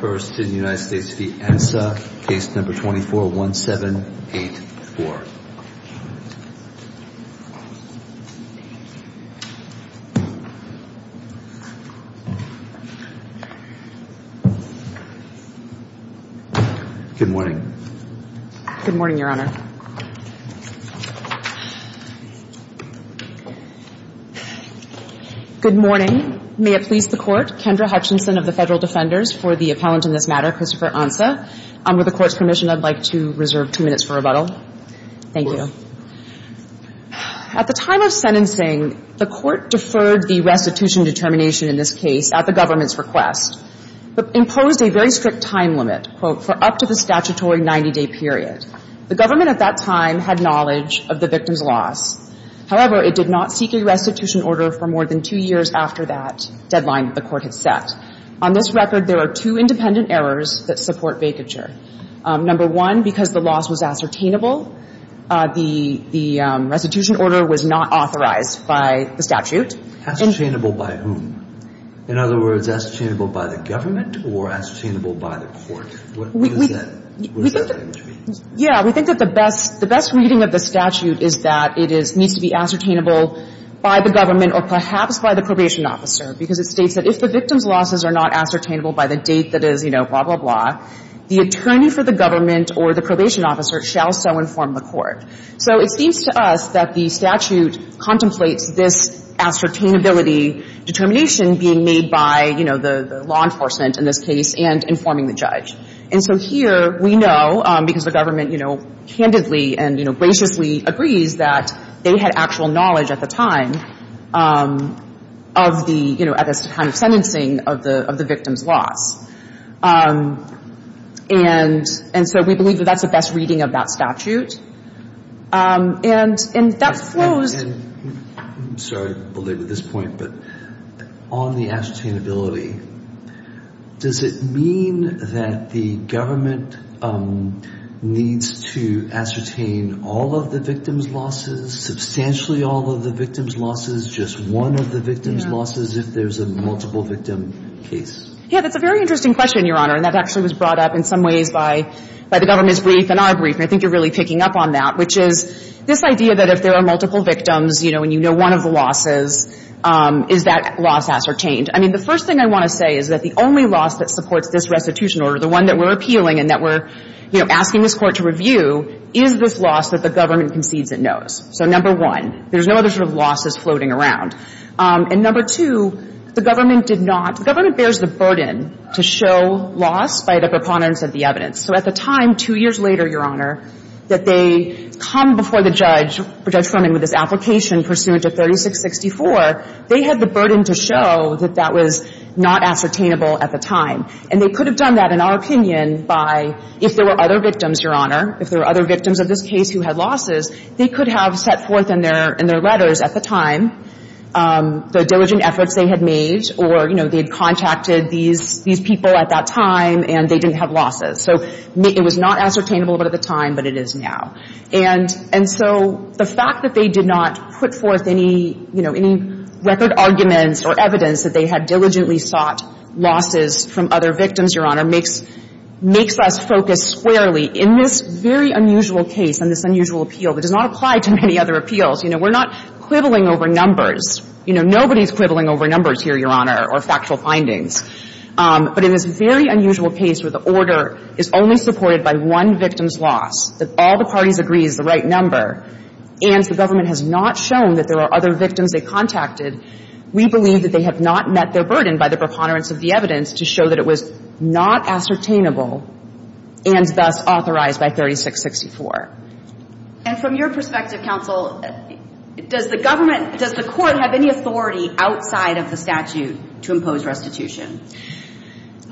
first in United States v. Ansah, case number 241784. Good morning. Good morning, Your Honor. May it please the Court, Kendra Hutchinson of the Federal Defenders for the appellant in this matter, Christopher Ansah. Under the Court's permission, I'd like to reserve two minutes for rebuttal. Thank you. At the time of sentencing, the Court deferred the restitution determination in this case at the government's request, but imposed a very strict time limit, quote, for up to the statutory 90-day period. The government at that time had knowledge of the victim's loss. However, it did not seek a restitution order for more than two years after that deadline that the Court had set. On this record, there are two independent errors that support vacature. Number one, because the loss was ascertainable, the restitution order was not authorized by the statute. Ascertainable by whom? In other words, ascertainable by the government or ascertainable by the Court? We think that the best reading of the statute is that it is needs to be ascertainable by the government or perhaps by the probation officer, because it states that if the victim's losses are not ascertainable by the date that is, you know, blah, blah, blah, the attorney for the government or the probation officer shall so inform the Court. So it seems to us that the statute contemplates this ascertainability determination being made by, you know, the law enforcement in this case and informing the judge. And so here, we know, because the government, you know, candidly and, you know, graciously agrees that they had actual knowledge at the time of the, you know, at this time of sentencing of the victim's loss. And so we believe that that's the best reading of that statute. And that flows. I'm sorry to belabor this point, but on the ascertainability, does it mean that the government needs to ascertain all of the victim's losses, substantially all of the victim's losses, just one of the victim's losses if there's a multiple victim case? Yeah. That's a very interesting question, Your Honor. And that actually was brought up in some ways by the government's brief and our brief. And I think you're really picking up on that, which is this idea that if there are multiple victims, you know, and you know one of the losses, is that loss ascertained? I mean, the first thing I want to say is that the only loss that supports this restitution order, the one that we're appealing and that we're, you know, asking this Court to review, is this loss that the government concedes it knows. So, number one, there's no other sort of losses floating around. And number two, the government did not – the government bears the burden to show loss by the preponderance of the evidence. So at the time, two years later, Your Honor, that they come before the judge, Judge Fleming, with this application pursuant to 3664, they had the burden to show that that was not ascertainable at the time. And they could have done that, in our opinion, by – if there were other victims, Your Honor, if there were other victims of this case who had losses, they could have set forth in their – in their letters at the time the diligent efforts they had made or, you know, they had contacted these – these people at that time and they didn't have losses. So it was not ascertainable at the time, but it is now. And so the fact that they did not put forth any, you know, any record arguments or evidence that they had diligently sought losses from other victims, Your Honor, makes – makes us focus squarely in this very unusual case and this unusual appeal that does not apply to many other appeals. You know, we're not quibbling over numbers. You know, nobody's quibbling over numbers here, Your Honor, or factual findings. But in this very unusual case where the order is only supported by one victim's loss, that all the parties agree is the right number, and the government has not shown that there are other victims they contacted, we believe that they have not met their burden by the preponderance of the evidence to show that it was not ascertainable and thus authorized by 3664. And from your perspective, counsel, does the government – does the Court have any authority outside of the statute to impose restitution?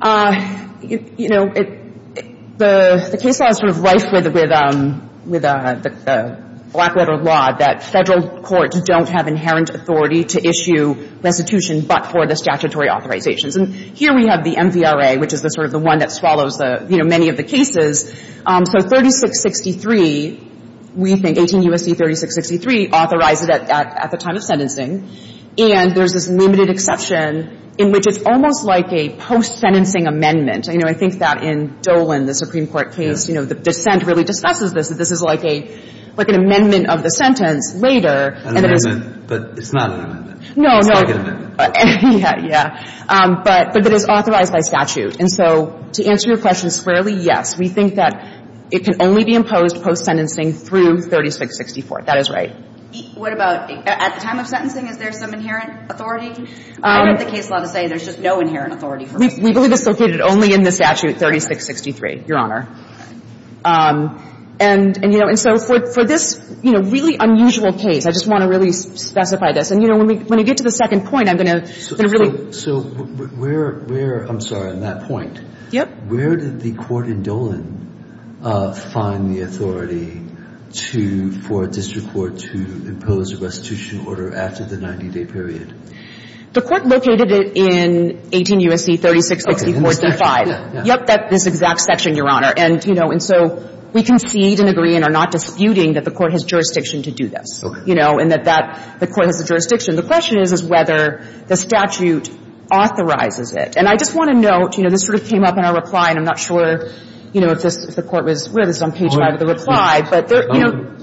You know, it – the case law is sort of rife with – with the black-letter law that Federal courts don't have inherent authority to issue restitution but for the statutory authorizations. And here we have the MVRA, which is the sort of the one that swallows, you know, many of the cases. So 3663, we think, 18 U.S.C. 3663, authorized it at the time of sentencing. And there's this limited exception in which it's almost like a post-sentencing amendment. You know, I think that in Dolan, the Supreme Court case, you know, the dissent really discusses this, that this is like a – like an amendment of the sentence later. An amendment, but it's not an amendment. No, no. It's like an amendment. Yeah, yeah. But – but it is authorized by statute. And so to answer your question squarely, yes, we think that it can only be imposed post-sentencing through 3664. That is right. What about at the time of sentencing, is there some inherent authority? I read the case law to say there's just no inherent authority for post-sentencing. We believe it's located only in the statute 3663, Your Honor. And, you know, and so for – for this, you know, really unusual case, I just want to really specify this. And, you know, when we get to the second point, I'm going to – So where – I'm sorry, on that point. Yep. Where did the court in Dolan find the authority to – for a district court to impose a restitution order after the 90-day period? The court located it in 18 U.S.C. 3664-35. Yep, that – this exact section, Your Honor. And, you know, and so we concede and agree and are not disputing that the court has jurisdiction to do this. Okay. You know, and that that – the court has a jurisdiction. The question is, is whether the statute authorizes it. And I just want to note, you know, this sort of came up in our reply, and I'm not sure, you know, if this – if the court was – we have this on page 5 of the reply, but there –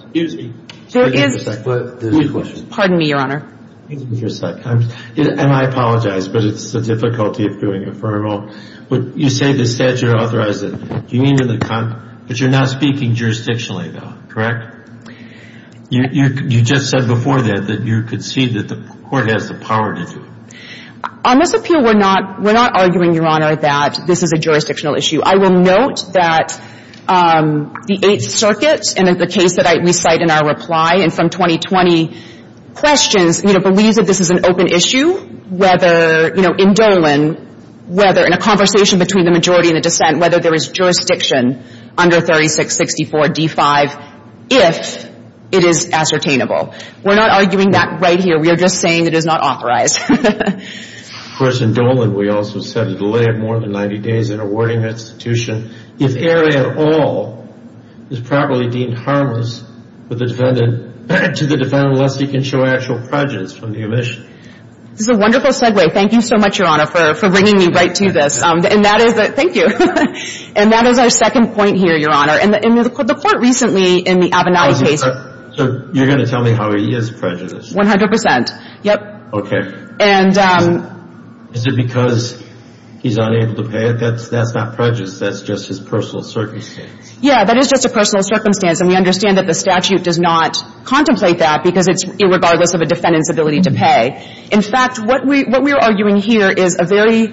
Excuse me. There is – There's a question. Pardon me, Your Honor. Give me just a sec. And I apologize, but it's the difficulty of doing a formal. You say the statute authorized it. Do you mean to – but you're not speaking jurisdictionally, though, correct? You just said before that you concede that the court has the power to do it. On this appeal, we're not – we're not arguing, Your Honor, that this is a jurisdictional issue. I will note that the Eighth Circuit, and in the case that we cite in our reply and from 2020 questions, you know, believes that this is an open issue, whether, you know, in Dolan, whether in a conversation between the majority and the dissent, whether there is jurisdiction under 3664-D-5, if it is ascertainable. We're not arguing that right here. We are just saying it is not authorized. Of course, in Dolan, we also said a delay of more than 90 days in awarding the institution if error at all is properly deemed harmless with the defendant to the defendant lest he can show actual prejudice from the omission. This is a wonderful segue. Thank you so much, Your Honor, for bringing me right to this. And that is – thank you. And that is our second point here, Your Honor. And the court recently in the Avenali case – So you're going to tell me how he is prejudiced? 100 percent. Yep. Okay. And – Is it because he's unable to pay it? That's not prejudice. That's just his personal circumstance. Yeah. That is just a personal circumstance. And we understand that the statute does not contemplate that because it's irregardless of a defendant's ability to pay. In fact, what we are arguing here is a very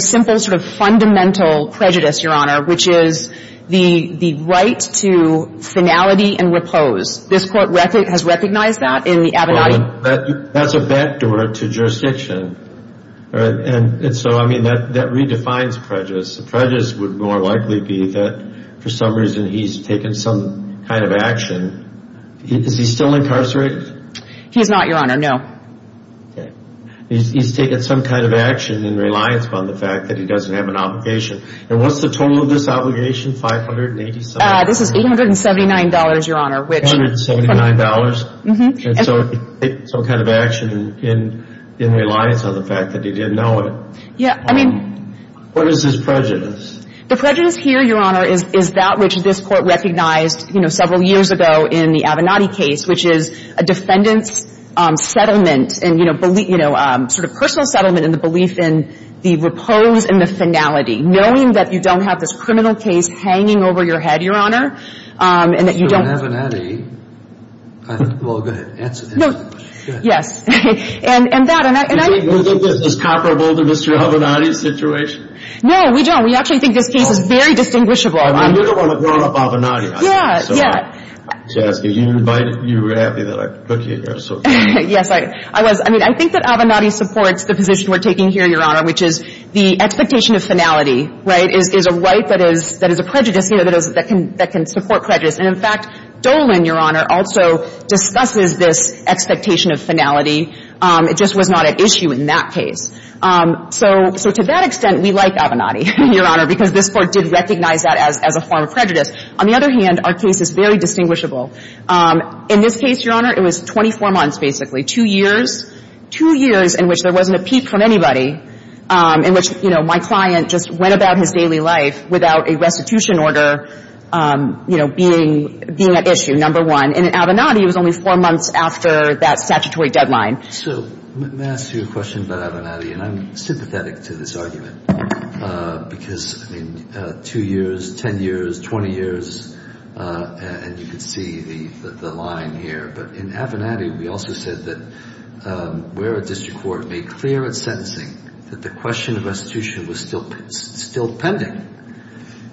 simple sort of fundamental prejudice, Your Honor, which is the right to finality and repose. This court has recognized that in the Avenali – That's a backdoor to jurisdiction. And so, I mean, that redefines prejudice. Prejudice would more likely be that for some reason he's taken some kind of action. Is he still incarcerated? He's not, Your Honor. No. Okay. He's taken some kind of action in reliance on the fact that he doesn't have an obligation. And what's the total of this obligation? $587? This is $879, Your Honor, which – $879? Mm-hmm. And so he's taken some kind of action in reliance on the fact that he didn't know it. Yeah. I mean – What is his prejudice? The prejudice here, Your Honor, is that which this court recognized, you know, several years ago in the Avenali case, which is a defendant's settlement and, you know, repose in the finality, knowing that you don't have this criminal case hanging over your head, Your Honor, and that you don't – So in Avenali, I think – well, go ahead. Answer this. No. Go ahead. Yes. And that – and I – Do you think this is comparable to Mr. Avenali's situation? No, we don't. We actually think this case is very distinguishable. I mean, you're the one that brought up Avenali, I think. Yeah, yeah. So, Jessica, you invited – you were happy that I put you here, so – Yes, I was. I mean, I think that Avenali supports the position we're taking here, Your Honor, which is the expectation of finality, right, is a right that is – that is a prejudice, you know, that can support prejudice. And, in fact, Dolan, Your Honor, also discusses this expectation of finality. It just was not at issue in that case. So to that extent, we like Avenali, Your Honor, because this Court did recognize that as a form of prejudice. On the other hand, our case is very distinguishable. In this case, Your Honor, it was 24 months, basically. Two years, two years in which there wasn't a peep from anybody, in which, you know, my client just went about his daily life without a restitution order, you know, being at issue, number one. And in Avenali, it was only four months after that statutory deadline. So may I ask you a question about Avenali? And I'm sympathetic to this argument because, I mean, two years, 10 years, 20 years, and you can see the line here. But in Avenali, we also said that where a district court made clear at sentencing that the question of restitution was still pending,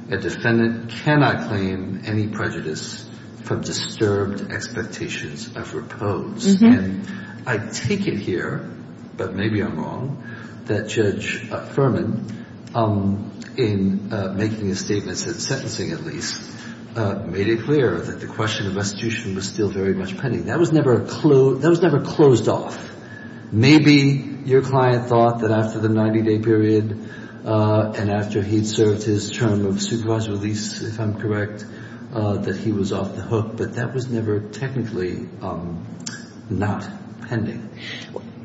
a defendant cannot claim any prejudice from disturbed expectations of repose. And I take it here, but maybe I'm wrong, that Judge Furman, in making a statement at sentencing, at least, made it clear that the question of restitution was still very much pending. That was never closed off. Maybe your client thought that after the 90-day period and after he'd served his term of supervised release, if I'm correct, that he was off the hook, but that was never technically not pending.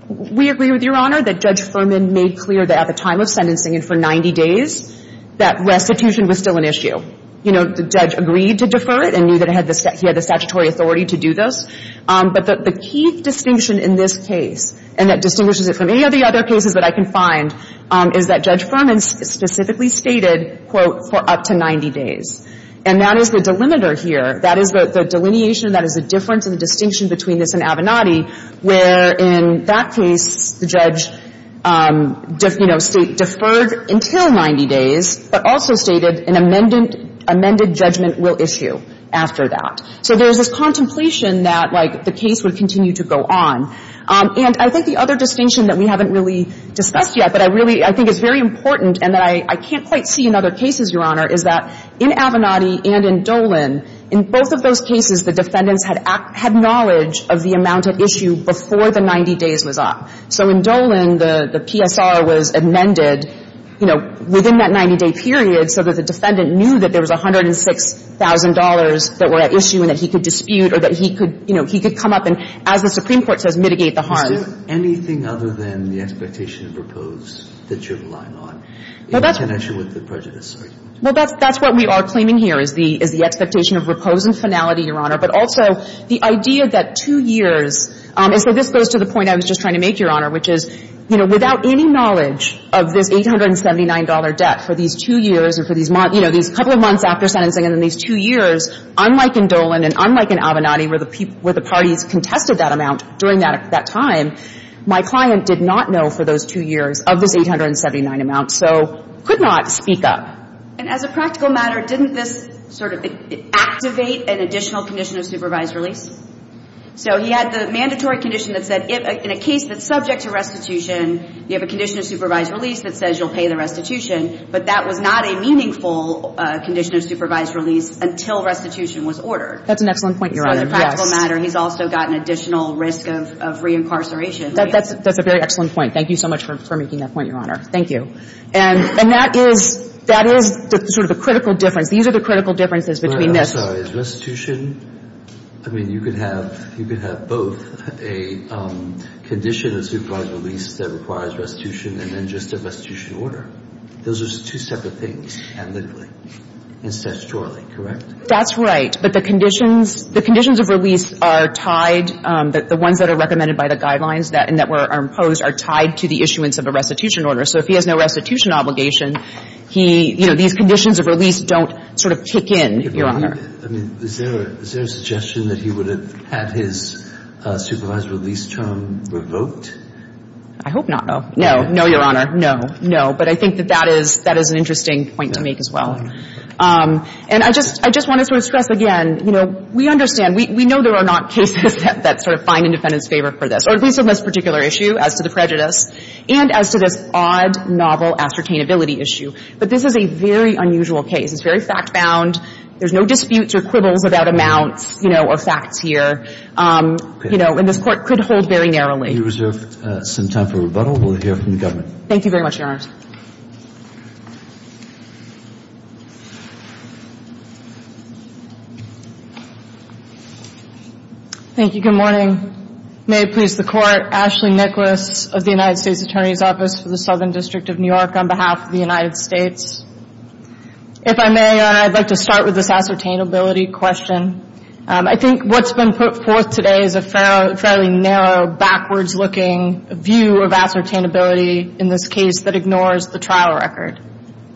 We agree with Your Honor that Judge Furman made clear that at the time of sentencing and for 90 days, that restitution was still an issue. You know, the judge agreed to defer it and knew that he had the statutory authority to do this. But the key distinction in this case, and that distinguishes it from any of the other cases that I can find, is that Judge Furman specifically stated, quote, for up to 90 days. And that is the delimiter here. That is the delineation, that is the difference and the distinction between this and Avenatti, where in that case, the judge, you know, deferred until 90 days, but also stated an amended judgment will issue after that. So there's this contemplation that, like, the case would continue to go on. And I think the other distinction that we haven't really discussed yet, but I really think is very important and that I can't quite see in other cases, Your Honor, is that in Avenatti and in Dolan, in both of those cases, the defendants had knowledge of the amount at issue before the 90 days was up. So in Dolan, the PSR was amended, you know, within that 90-day period so that the defendant knew that there was $106,000 that were at issue and that he could dispute or that he could, you know, he could come up and, as the Supreme Court says, mitigate the harm. Is there anything other than the expectation of repose that you're relying on in connection with the prejudice argument? Well, that's what we are claiming here, is the expectation of repose and finality, Your Honor, but also the idea that two years. And so this goes to the point I was just trying to make, Your Honor, which is, you know, without any knowledge of this $879 debt for these two years or for these months, you know, these couple of months after sentencing and then these two years, unlike in Dolan and unlike in Avenatti where the parties contested that amount during that time, my client did not know for those two years of this 879 amount, so could not speak up. And as a practical matter, didn't this sort of activate an additional condition of supervised release? So he had the mandatory condition that said, in a case that's subject to restitution, you have a condition of supervised release that says you'll pay the restitution, but that was not a meaningful condition of supervised release until restitution was ordered. That's an excellent point, Your Honor. Yes. So as a practical matter, he's also got an additional risk of reincarceration. That's a very excellent point. Thank you so much for making that point, Your Honor. Thank you. And that is sort of a critical difference. These are the critical differences between this. I'm sorry. Is restitution – I mean, you could have both a condition of supervised release that requires restitution and then just a restitution order. Those are just two separate things, analytically and statutorily, correct? That's right. But the conditions of release are tied – the ones that are recommended by the guidelines and that are imposed are tied to the issuance of a restitution order. So if he has no restitution obligation, he – you know, these conditions of release don't sort of kick in, Your Honor. I mean, is there – is there a suggestion that he would have had his supervised release term revoked? I hope not, no. No, no, Your Honor. No, no. But I think that that is – that is an interesting point to make as well. And I just – I just want to sort of stress again, you know, we understand – we know there are not cases that sort of find independence favor for this, or at least on this particular issue as to the prejudice, and as to this odd, novel ascertainability issue. But this is a very unusual case. It's very fact-bound. There's no disputes or quibbles about amounts, you know, or facts here. You know, and this Court could hold very narrowly. We reserve some time for rebuttal. We'll hear from the government. Thank you very much, Your Honors. Thank you. Good morning. May it please the Court. Ashley Nicholas of the United States Attorney's Office for the Southern District of New York on behalf of the United States. If I may, I'd like to start with this ascertainability question. I think what's been put forth today is a fairly narrow, backwards-looking view of ascertainability in this case that ignores the trial record.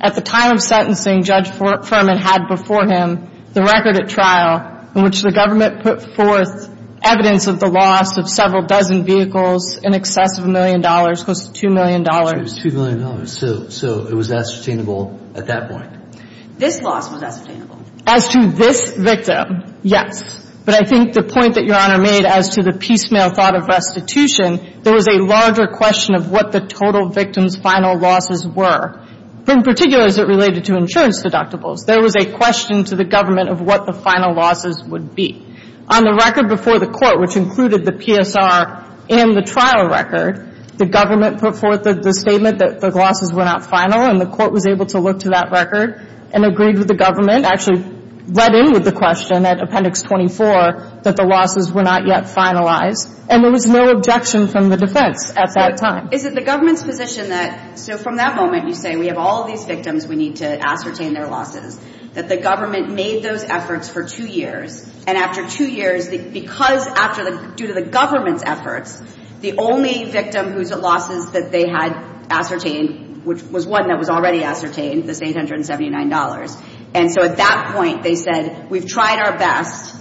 At the time of sentencing, Judge Fuhrman had before him the record at trial in which the government put forth evidence of the loss of several dozen vehicles in excess of a million dollars, close to $2 million. So it was $2 million. So it was ascertainable at that point. This loss was ascertainable. As to this victim, yes. But I think the point that Your Honor made as to the piecemeal thought of restitution, there was a larger question of what the total victim's final losses were. In particular, as it related to insurance deductibles. There was a question to the government of what the final losses would be. On the record before the court, which included the PSR and the trial record, the government put forth the statement that the losses were not final, and the court was able to look to that record and agree with the government, actually read in with the question at Appendix 24, that the losses were not yet finalized. And there was no objection from the defense at that time. Is it the government's position that, so from that moment, you say, we have all of these victims, we need to ascertain their losses, that the government made those efforts for two years. And after two years, due to the government's efforts, the only victim whose losses that they had ascertained, which was one that was already ascertained, was $879. And so at that point they said, we've tried our best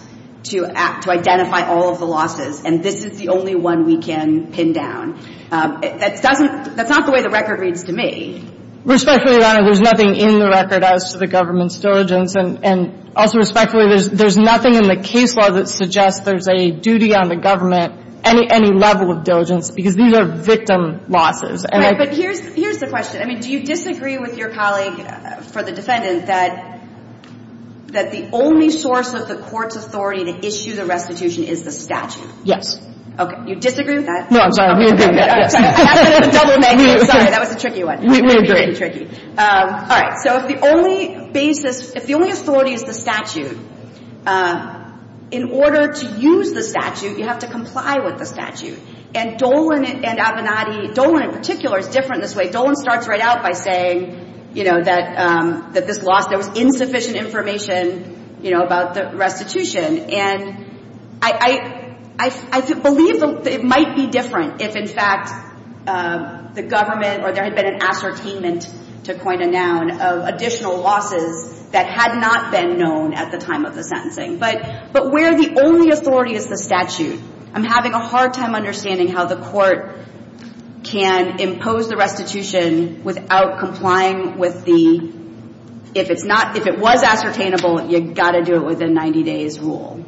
to identify all of the losses, and this is the only one we can pin down. That's not the way the record reads to me. Respectfully, Your Honor, there's nothing in the record as to the government's diligence. And also respectfully, there's nothing in the case law that suggests there's a duty on the government, any level of diligence, because these are victim losses. Right. But here's the question. I mean, do you disagree with your colleague, for the defendant, that the only source of the court's authority to issue the restitution is the statute? Yes. Okay. You disagree with that? No, I'm sorry. We agree with that. Sorry, that was a tricky one. We agree. All right. So if the only basis, if the only authority is the statute, in order to use the statute, you have to comply with the statute. And Dolan and Avenatti, Dolan in particular, is different in this way. Dolan starts right out by saying, you know, that this loss, there was insufficient information, you know, about the restitution. And I believe it might be different if, in fact, the government or there had been an ascertainment, to coin a noun, of additional losses that had not been known at the time of the sentencing. But where the only authority is the statute, I'm having a hard time understanding how the court can impose the restitution without complying with the, if it's not, if it was ascertainable, you've got to do it within 90 days' rule.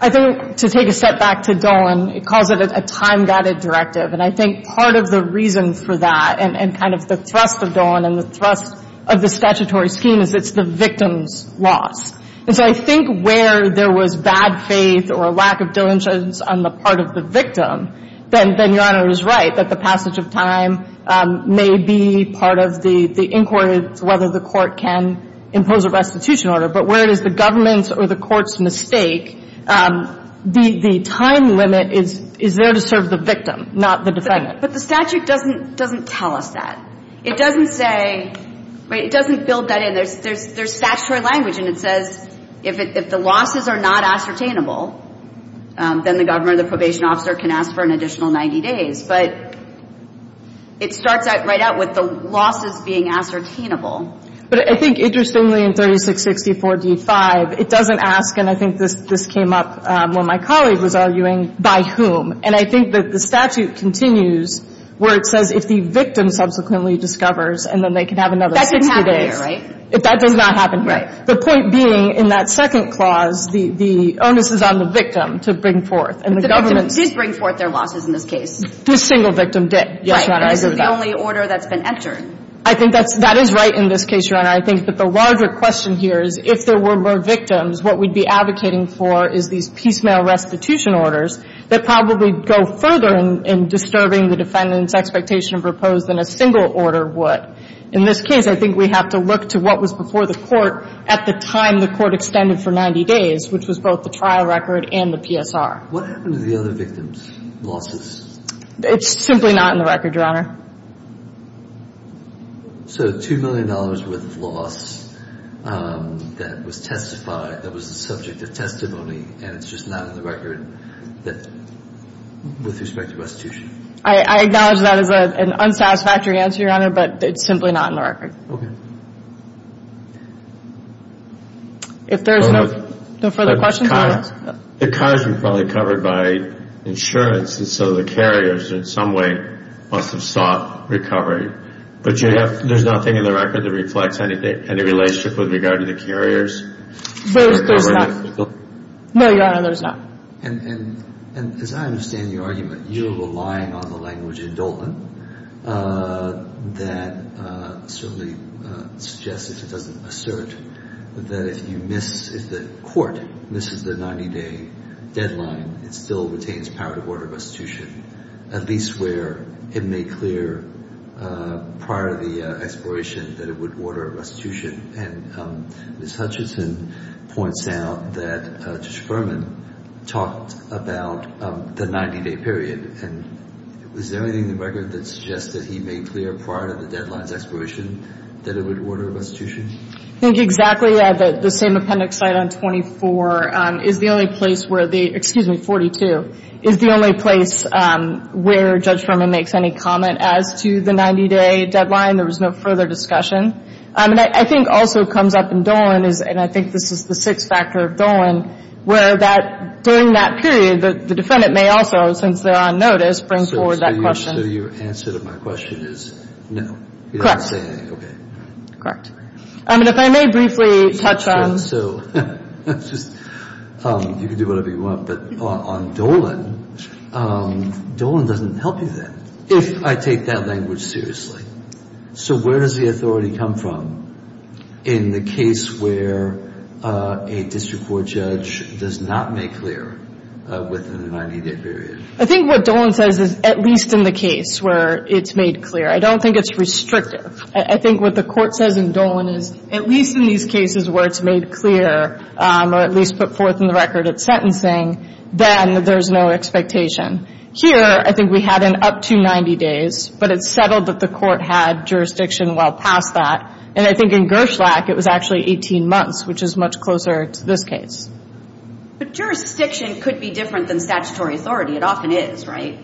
I think, to take a step back to Dolan, it calls it a time-guided directive. And I think part of the reason for that and kind of the thrust of Dolan and the thrust of the statutory scheme is it's the victim's loss. And so I think where there was bad faith or lack of diligence on the part of the victim, then Your Honor is right, that the passage of time may be part of the inquiry as to whether the court can impose a restitution order. But where it is the government's or the court's mistake, the time limit is there to serve the victim, not the defendant. But the statute doesn't tell us that. It doesn't say, right, it doesn't build that in. There's statutory language, and it says if the losses are not ascertainable, then the government or the probation officer can ask for an additional 90 days. But it starts right out with the losses being ascertainable. But I think, interestingly, in 3664d-5, it doesn't ask, and I think this came up when my colleague was arguing, by whom. And I think that the statute continues where it says if the victim subsequently discovers and then they can have another 60 days. That doesn't happen here, right? That does not happen here. Right. The point being, in that second clause, the onus is on the victim to bring forth. But the victim did bring forth their losses in this case. This single victim did. Right. Yes, Your Honor, I agree with that. And this is the only order that's been entered. I think that is right in this case, Your Honor. I think that the larger question here is if there were more victims, what we'd be advocating for is these piecemeal restitution orders that probably go further in disturbing the defendant's expectation of repose than a single order would. In this case, I think we have to look to what was before the court at the time the court extended for 90 days, which was both the trial record and the PSR. What happened to the other victims' losses? It's simply not in the record, Your Honor. So $2 million worth of loss that was testified, that was the subject of testimony, and it's just not in the record with respect to restitution? I acknowledge that as an unsatisfactory answer, Your Honor, but it's simply not in the record. Okay. If there's no further questions, Your Honor. The cars were probably covered by insurance, and so the carriers in some way must have sought recovery. But there's nothing in the record that reflects any relationship with regard to the carriers? There's not. No, Your Honor, there's not. And as I understand your argument, you're relying on the language in Dolan that certainly suggests, if it doesn't assert, that if you miss, if the court misses the 90-day deadline, it still retains power to order restitution, at least where it made clear prior to the expiration that it would order restitution. And Ms. Hutchinson points out that Judge Furman talked about the 90-day period, and is there anything in the record that suggests that he made clear prior to the deadline's expiration that it would order restitution? I think exactly. The same appendix site on 24 is the only place where the — excuse me, 42 — is the only place where Judge Furman makes any comment as to the 90-day deadline. There was no further discussion. And I think also comes up in Dolan, and I think this is the sixth factor of Dolan, where that — during that period, the defendant may also, since they're on notice, bring forward that question. So your answer to my question is no? Correct. He didn't say anything. Okay. Correct. I mean, if I may briefly touch on — So let's just — you can do whatever you want. But on Dolan, Dolan doesn't help you then, if I take that language seriously. So where does the authority come from in the case where a district court judge does not make clear within the 90-day period? I think what Dolan says is at least in the case where it's made clear. I don't think it's restrictive. I think what the court says in Dolan is at least in these cases where it's made clear or at least put forth in the record it's sentencing, then there's no expectation. Here, I think we had an up to 90 days, but it's settled that the court had jurisdiction well past that. And I think in Gerschlak, it was actually 18 months, which is much closer to this case. But jurisdiction could be different than statutory authority. It often is, right?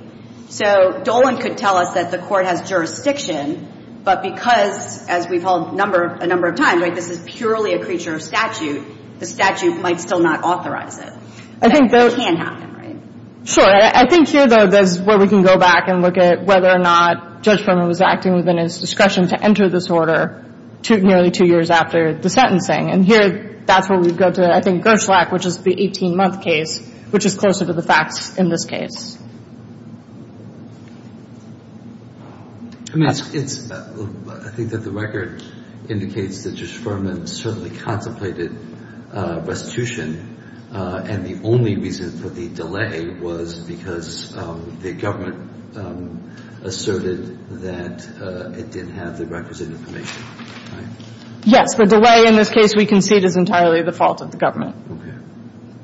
So Dolan could tell us that the court has jurisdiction, but because, as we've held a number of times, this is purely a creature of statute, the statute might still not authorize it. That can happen, right? Sure. I think here, though, that's where we can go back and look at whether or not Judge Berman was acting within his discretion to enter this order nearly two years after the sentencing. And here, that's where we go to, I think, Gerschlak, which is the 18-month case, which is closer to the facts in this case. I mean, it's – I think that the record indicates that Judge Berman certainly contemplated restitution, and the only reason for the delay was because the government asserted that it didn't have the requisite information, right? Yes. The delay in this case we concede is entirely the fault of the government. Okay.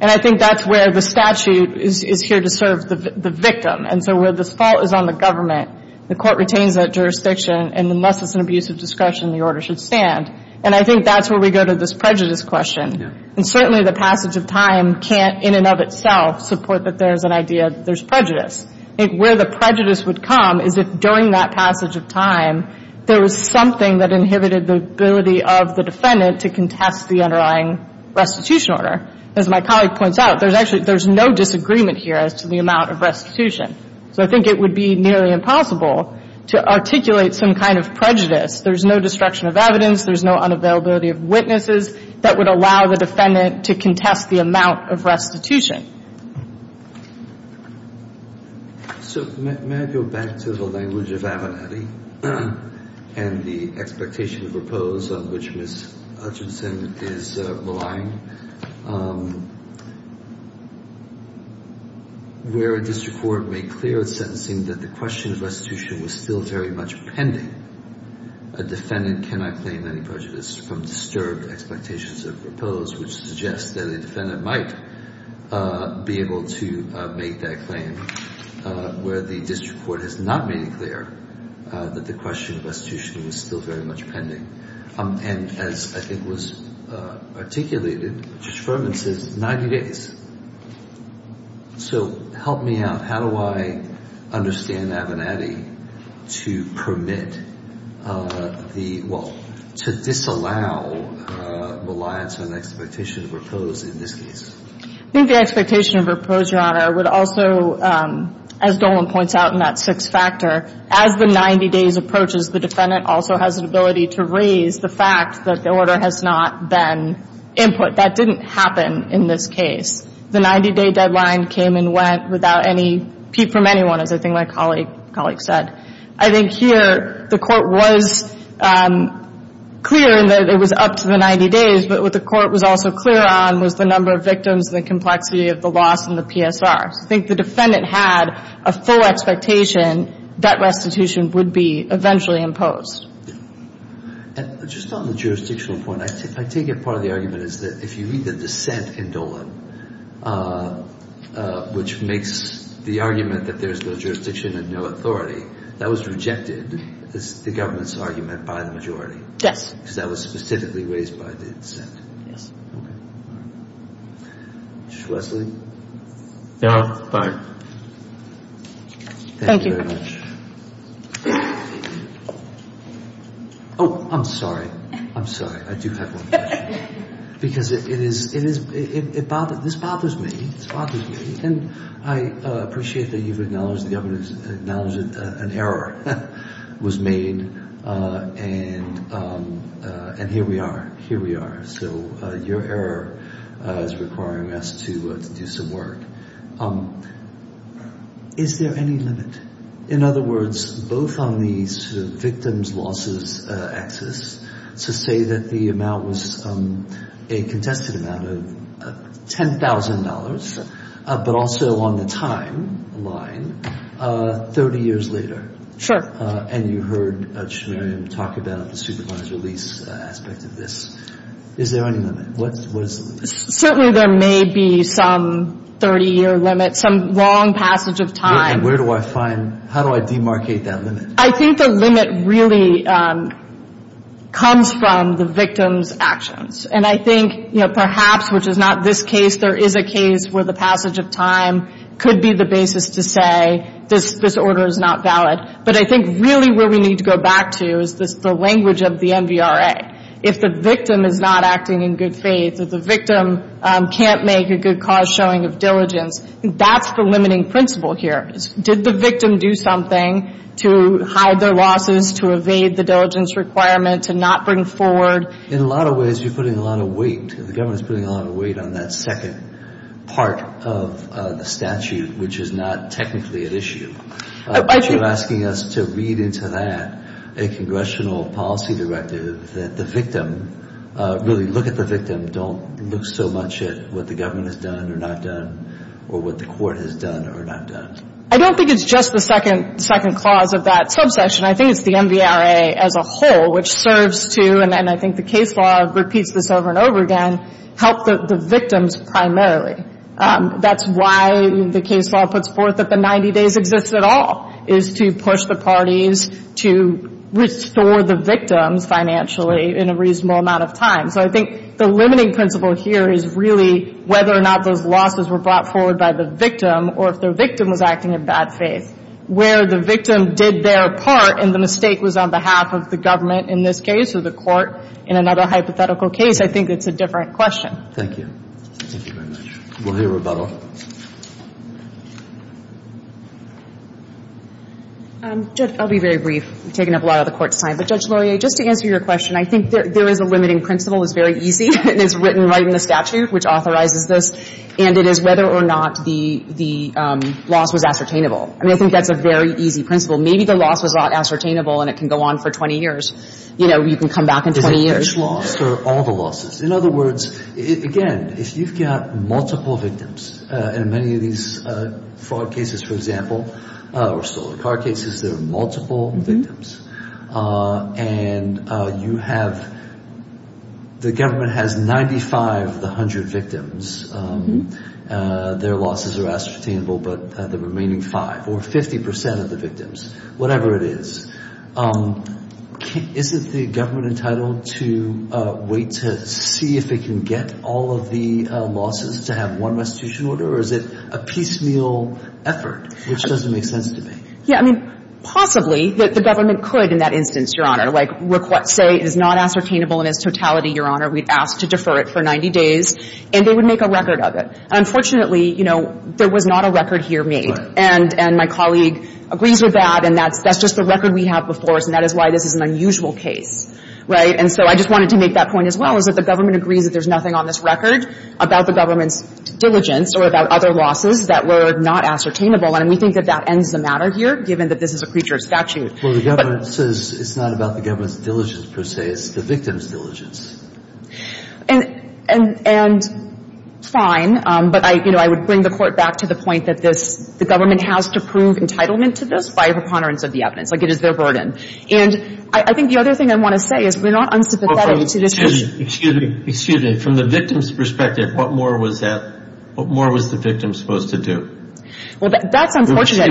And I think that's where the statute is here to serve the victim. And so where the fault is on the government, the court retains that jurisdiction, and unless it's an abuse of discretion, the order should stand. And I think that's where we go to this prejudice question. Yeah. And certainly the passage of time can't in and of itself support that there's an idea that there's prejudice. I think where the prejudice would come is if during that passage of time there was something that inhibited the ability of the defendant to contest the underlying restitution order. As my colleague points out, there's actually – there's no disagreement here as to the amount of restitution. So I think it would be nearly impossible to articulate some kind of prejudice. There's no destruction of evidence. There's no unavailability of witnesses that would allow the defendant to contest the amount of restitution. So may I go back to the language of Abernathy and the expectation of repose on which Hutchinson is relying? Where a district court may clear its sentencing that the question of restitution was still very much pending, a defendant cannot claim any prejudice from disturbed expectations of repose, which suggests that a defendant might be able to make that claim, where the district court has not made it clear that the question of restitution was still very much pending. And as I think was articulated, Judge Furman says 90 days. So help me out. How do I understand Abernathy to permit the – well, to disallow reliance on expectation of repose in this case? I think the expectation of repose, Your Honor, would also, as Dolan points out in that as the 90 days approaches, the defendant also has an ability to raise the fact that the order has not been input. That didn't happen in this case. The 90-day deadline came and went without any – from anyone, as I think my colleague said. I think here the Court was clear in that it was up to the 90 days, but what the Court was also clear on was the number of victims and the complexity of the loss and the PSR. So I think the defendant had a full expectation that restitution would be eventually imposed. And just on the jurisdictional point, I take it part of the argument is that if you read the dissent in Dolan, which makes the argument that there's no jurisdiction and no authority, that was rejected as the government's argument by the majority. Yes. Because that was specifically raised by the dissent. Yes. Okay. All right. Justice Leslie? No. Bye. Thank you. Thank you very much. Oh, I'm sorry. I'm sorry. I do have one question. Because it is – it bothers – this bothers me. This bothers me. And I appreciate that you've acknowledged the evidence, acknowledged that an error was made. And here we are. Here we are. So your error is requiring us to do some work. Is there any limit? In other words, both on the sort of victims' losses axis, to say that the amount was a contested amount of $10,000, but also on the timeline 30 years later. Sure. And you heard Schmerin talk about the supervised release aspect of this. Is there any limit? What is the limit? Certainly there may be some 30-year limit, some long passage of time. And where do I find – how do I demarcate that limit? I think the limit really comes from the victim's actions. And I think, you know, perhaps, which is not this case, there is a case where the passage of time could be the basis to say this order is not valid. But I think really where we need to go back to is the language of the NVRA. If the victim is not acting in good faith, if the victim can't make a good cause showing of diligence, that's the limiting principle here. Did the victim do something to hide their losses, to evade the diligence requirement, to not bring forward? In a lot of ways, you're putting a lot of weight. The government is putting a lot of weight on that second part of the statute, which is not technically at issue. But you're asking us to read into that a congressional policy directive that the victim, really look at the victim, don't look so much at what the government has done or not done or what the court has done or not done. I don't think it's just the second clause of that subsection. I think it's the NVRA as a whole, which serves to, and I think the case law repeats this over and over again, help the victims primarily. That's why the case law puts forth that the 90 days exist at all, is to push the parties to restore the victims financially in a reasonable amount of time. So I think the limiting principle here is really whether or not those losses were brought forward by the victim or if the victim was acting in bad faith. Where the victim did their part and the mistake was on behalf of the government in this case or the court in another hypothetical case, I think it's a different question. Thank you. Thank you very much. We'll hear rebuttal. Judge, I'll be very brief. We've taken up a lot of the court's time. But Judge Laurier, just to answer your question, I think there is a limiting principle. It's very easy and it's written right in the statute, which authorizes this. And it is whether or not the loss was ascertainable. I mean, I think that's a very easy principle. Maybe the loss was not ascertainable and it can go on for 20 years. You know, you can come back in 20 years. Is it each loss or all the losses? In other words, again, if you've got multiple victims in many of these fraud cases, for example, or stolen car cases, there are multiple victims. And you have the government has 95 of the 100 victims. Their losses are ascertainable. But the remaining 5 or 50% of the victims, whatever it is, isn't the government entitled to wait to see if it can get all of the losses to have one restitution order? Or is it a piecemeal effort, which doesn't make sense to me? Yeah. I mean, possibly the government could in that instance, Your Honor. Like say it is not ascertainable in its totality, Your Honor. We'd ask to defer it for 90 days. And they would make a record of it. Unfortunately, you know, there was not a record here made. Right. And my colleague agrees with that. And that's just the record we have before us. And that is why this is an unusual case. Right. And so I just wanted to make that point as well, is that the government agrees that there's nothing on this record about the government's diligence or about other losses that were not ascertainable. And we think that that ends the matter here, given that this is a creature of statute. Well, the government says it's not about the government's diligence per se. It's the victim's diligence. And fine. But, you know, I would bring the Court back to the point that this the government has to prove entitlement to this by a preponderance of the evidence. Like, it is their burden. And I think the other thing I want to say is we're not unsympathetic to this. Excuse me. Excuse me. From the victim's perspective, what more was the victim supposed to do? Well, that's unfortunate.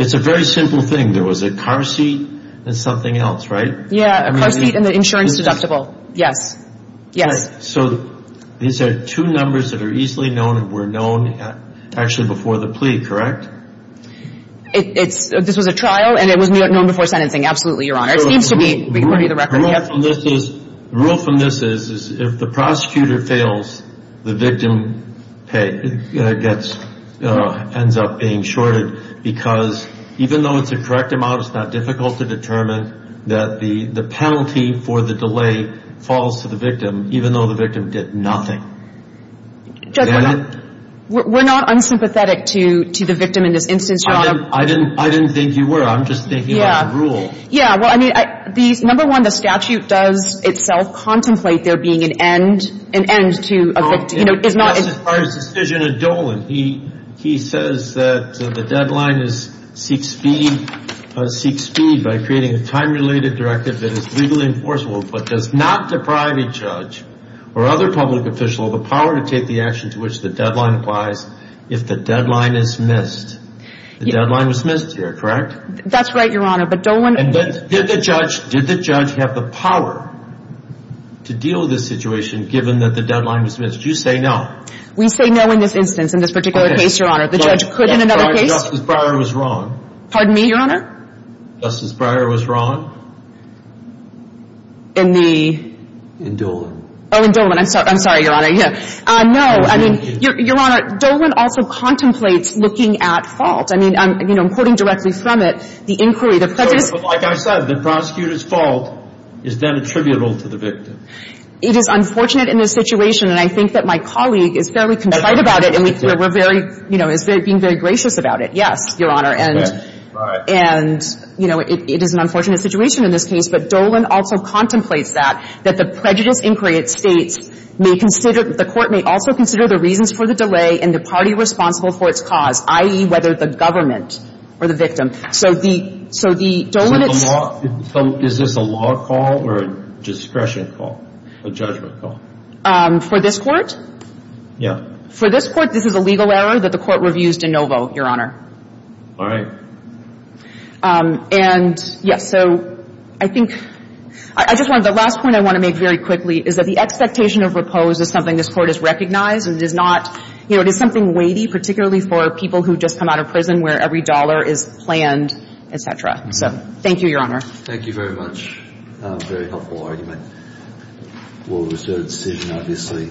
It's a very simple thing. There was a car seat and something else, right? Yeah, a car seat and the insurance deductible. Yes. Yes. So these are two numbers that are easily known and were known actually before the plea, correct? This was a trial and it was known before sentencing. Absolutely, Your Honor. It needs to be part of the record. The rule from this is if the prosecutor fails, the victim ends up being shorted, because even though it's a correct amount, it's not difficult to determine that the penalty for the delay falls to the victim, even though the victim did nothing. Judge, we're not unsympathetic to the victim in this instance, Your Honor. I didn't think you were. I'm just thinking about the rule. Yeah. Well, I mean, number one, the statute does itself contemplate there being an end to a victim. As far as the decision of Dolan, he says that the deadline is seek speed by creating a time-related directive that is legally enforceable but does not deprive a judge or other public official of the power to take the action to which the deadline applies if the deadline is missed. The deadline was missed here, correct? That's right, Your Honor. But Dolan— Did the judge have the power to deal with this situation given that the deadline was missed? You say no. We say no in this instance, in this particular case, Your Honor. The judge could in another case— Justice Breyer was wrong. Pardon me, Your Honor? Justice Breyer was wrong? In the— Oh, in Dolan. I'm sorry, Your Honor. No, I mean, Your Honor, Dolan also contemplates looking at fault. I mean, I'm quoting directly from it, the inquiry, the prejudice— But like I said, the prosecutor's fault is then attributable to the victim. It is unfortunate in this situation, and I think that my colleague is fairly contrite about it, and we're very—you know, is being very gracious about it. Yes, Your Honor. And, you know, it is an unfortunate situation in this case, but Dolan also contemplates that, that the prejudice inquiry, it states, may consider—the Court may also consider the reasons for the delay and the party responsible for its cause, i.e., whether the government or the victim. So the— So the law—is this a law call or a discretion call, a judgment call? For this Court? Yeah. For this Court, this is a legal error that the Court reviews de novo, Your Honor. All right. And, yes, so I think—I just want to—the last point I want to make very quickly is that the expectation of repose is something this Court has recognized, and it is not—you know, it is something weighty, particularly for people who just come out of prison where every dollar is planned, et cetera. So thank you, Your Honor. Thank you very much. Very helpful argument. We'll reserve the decision, obviously.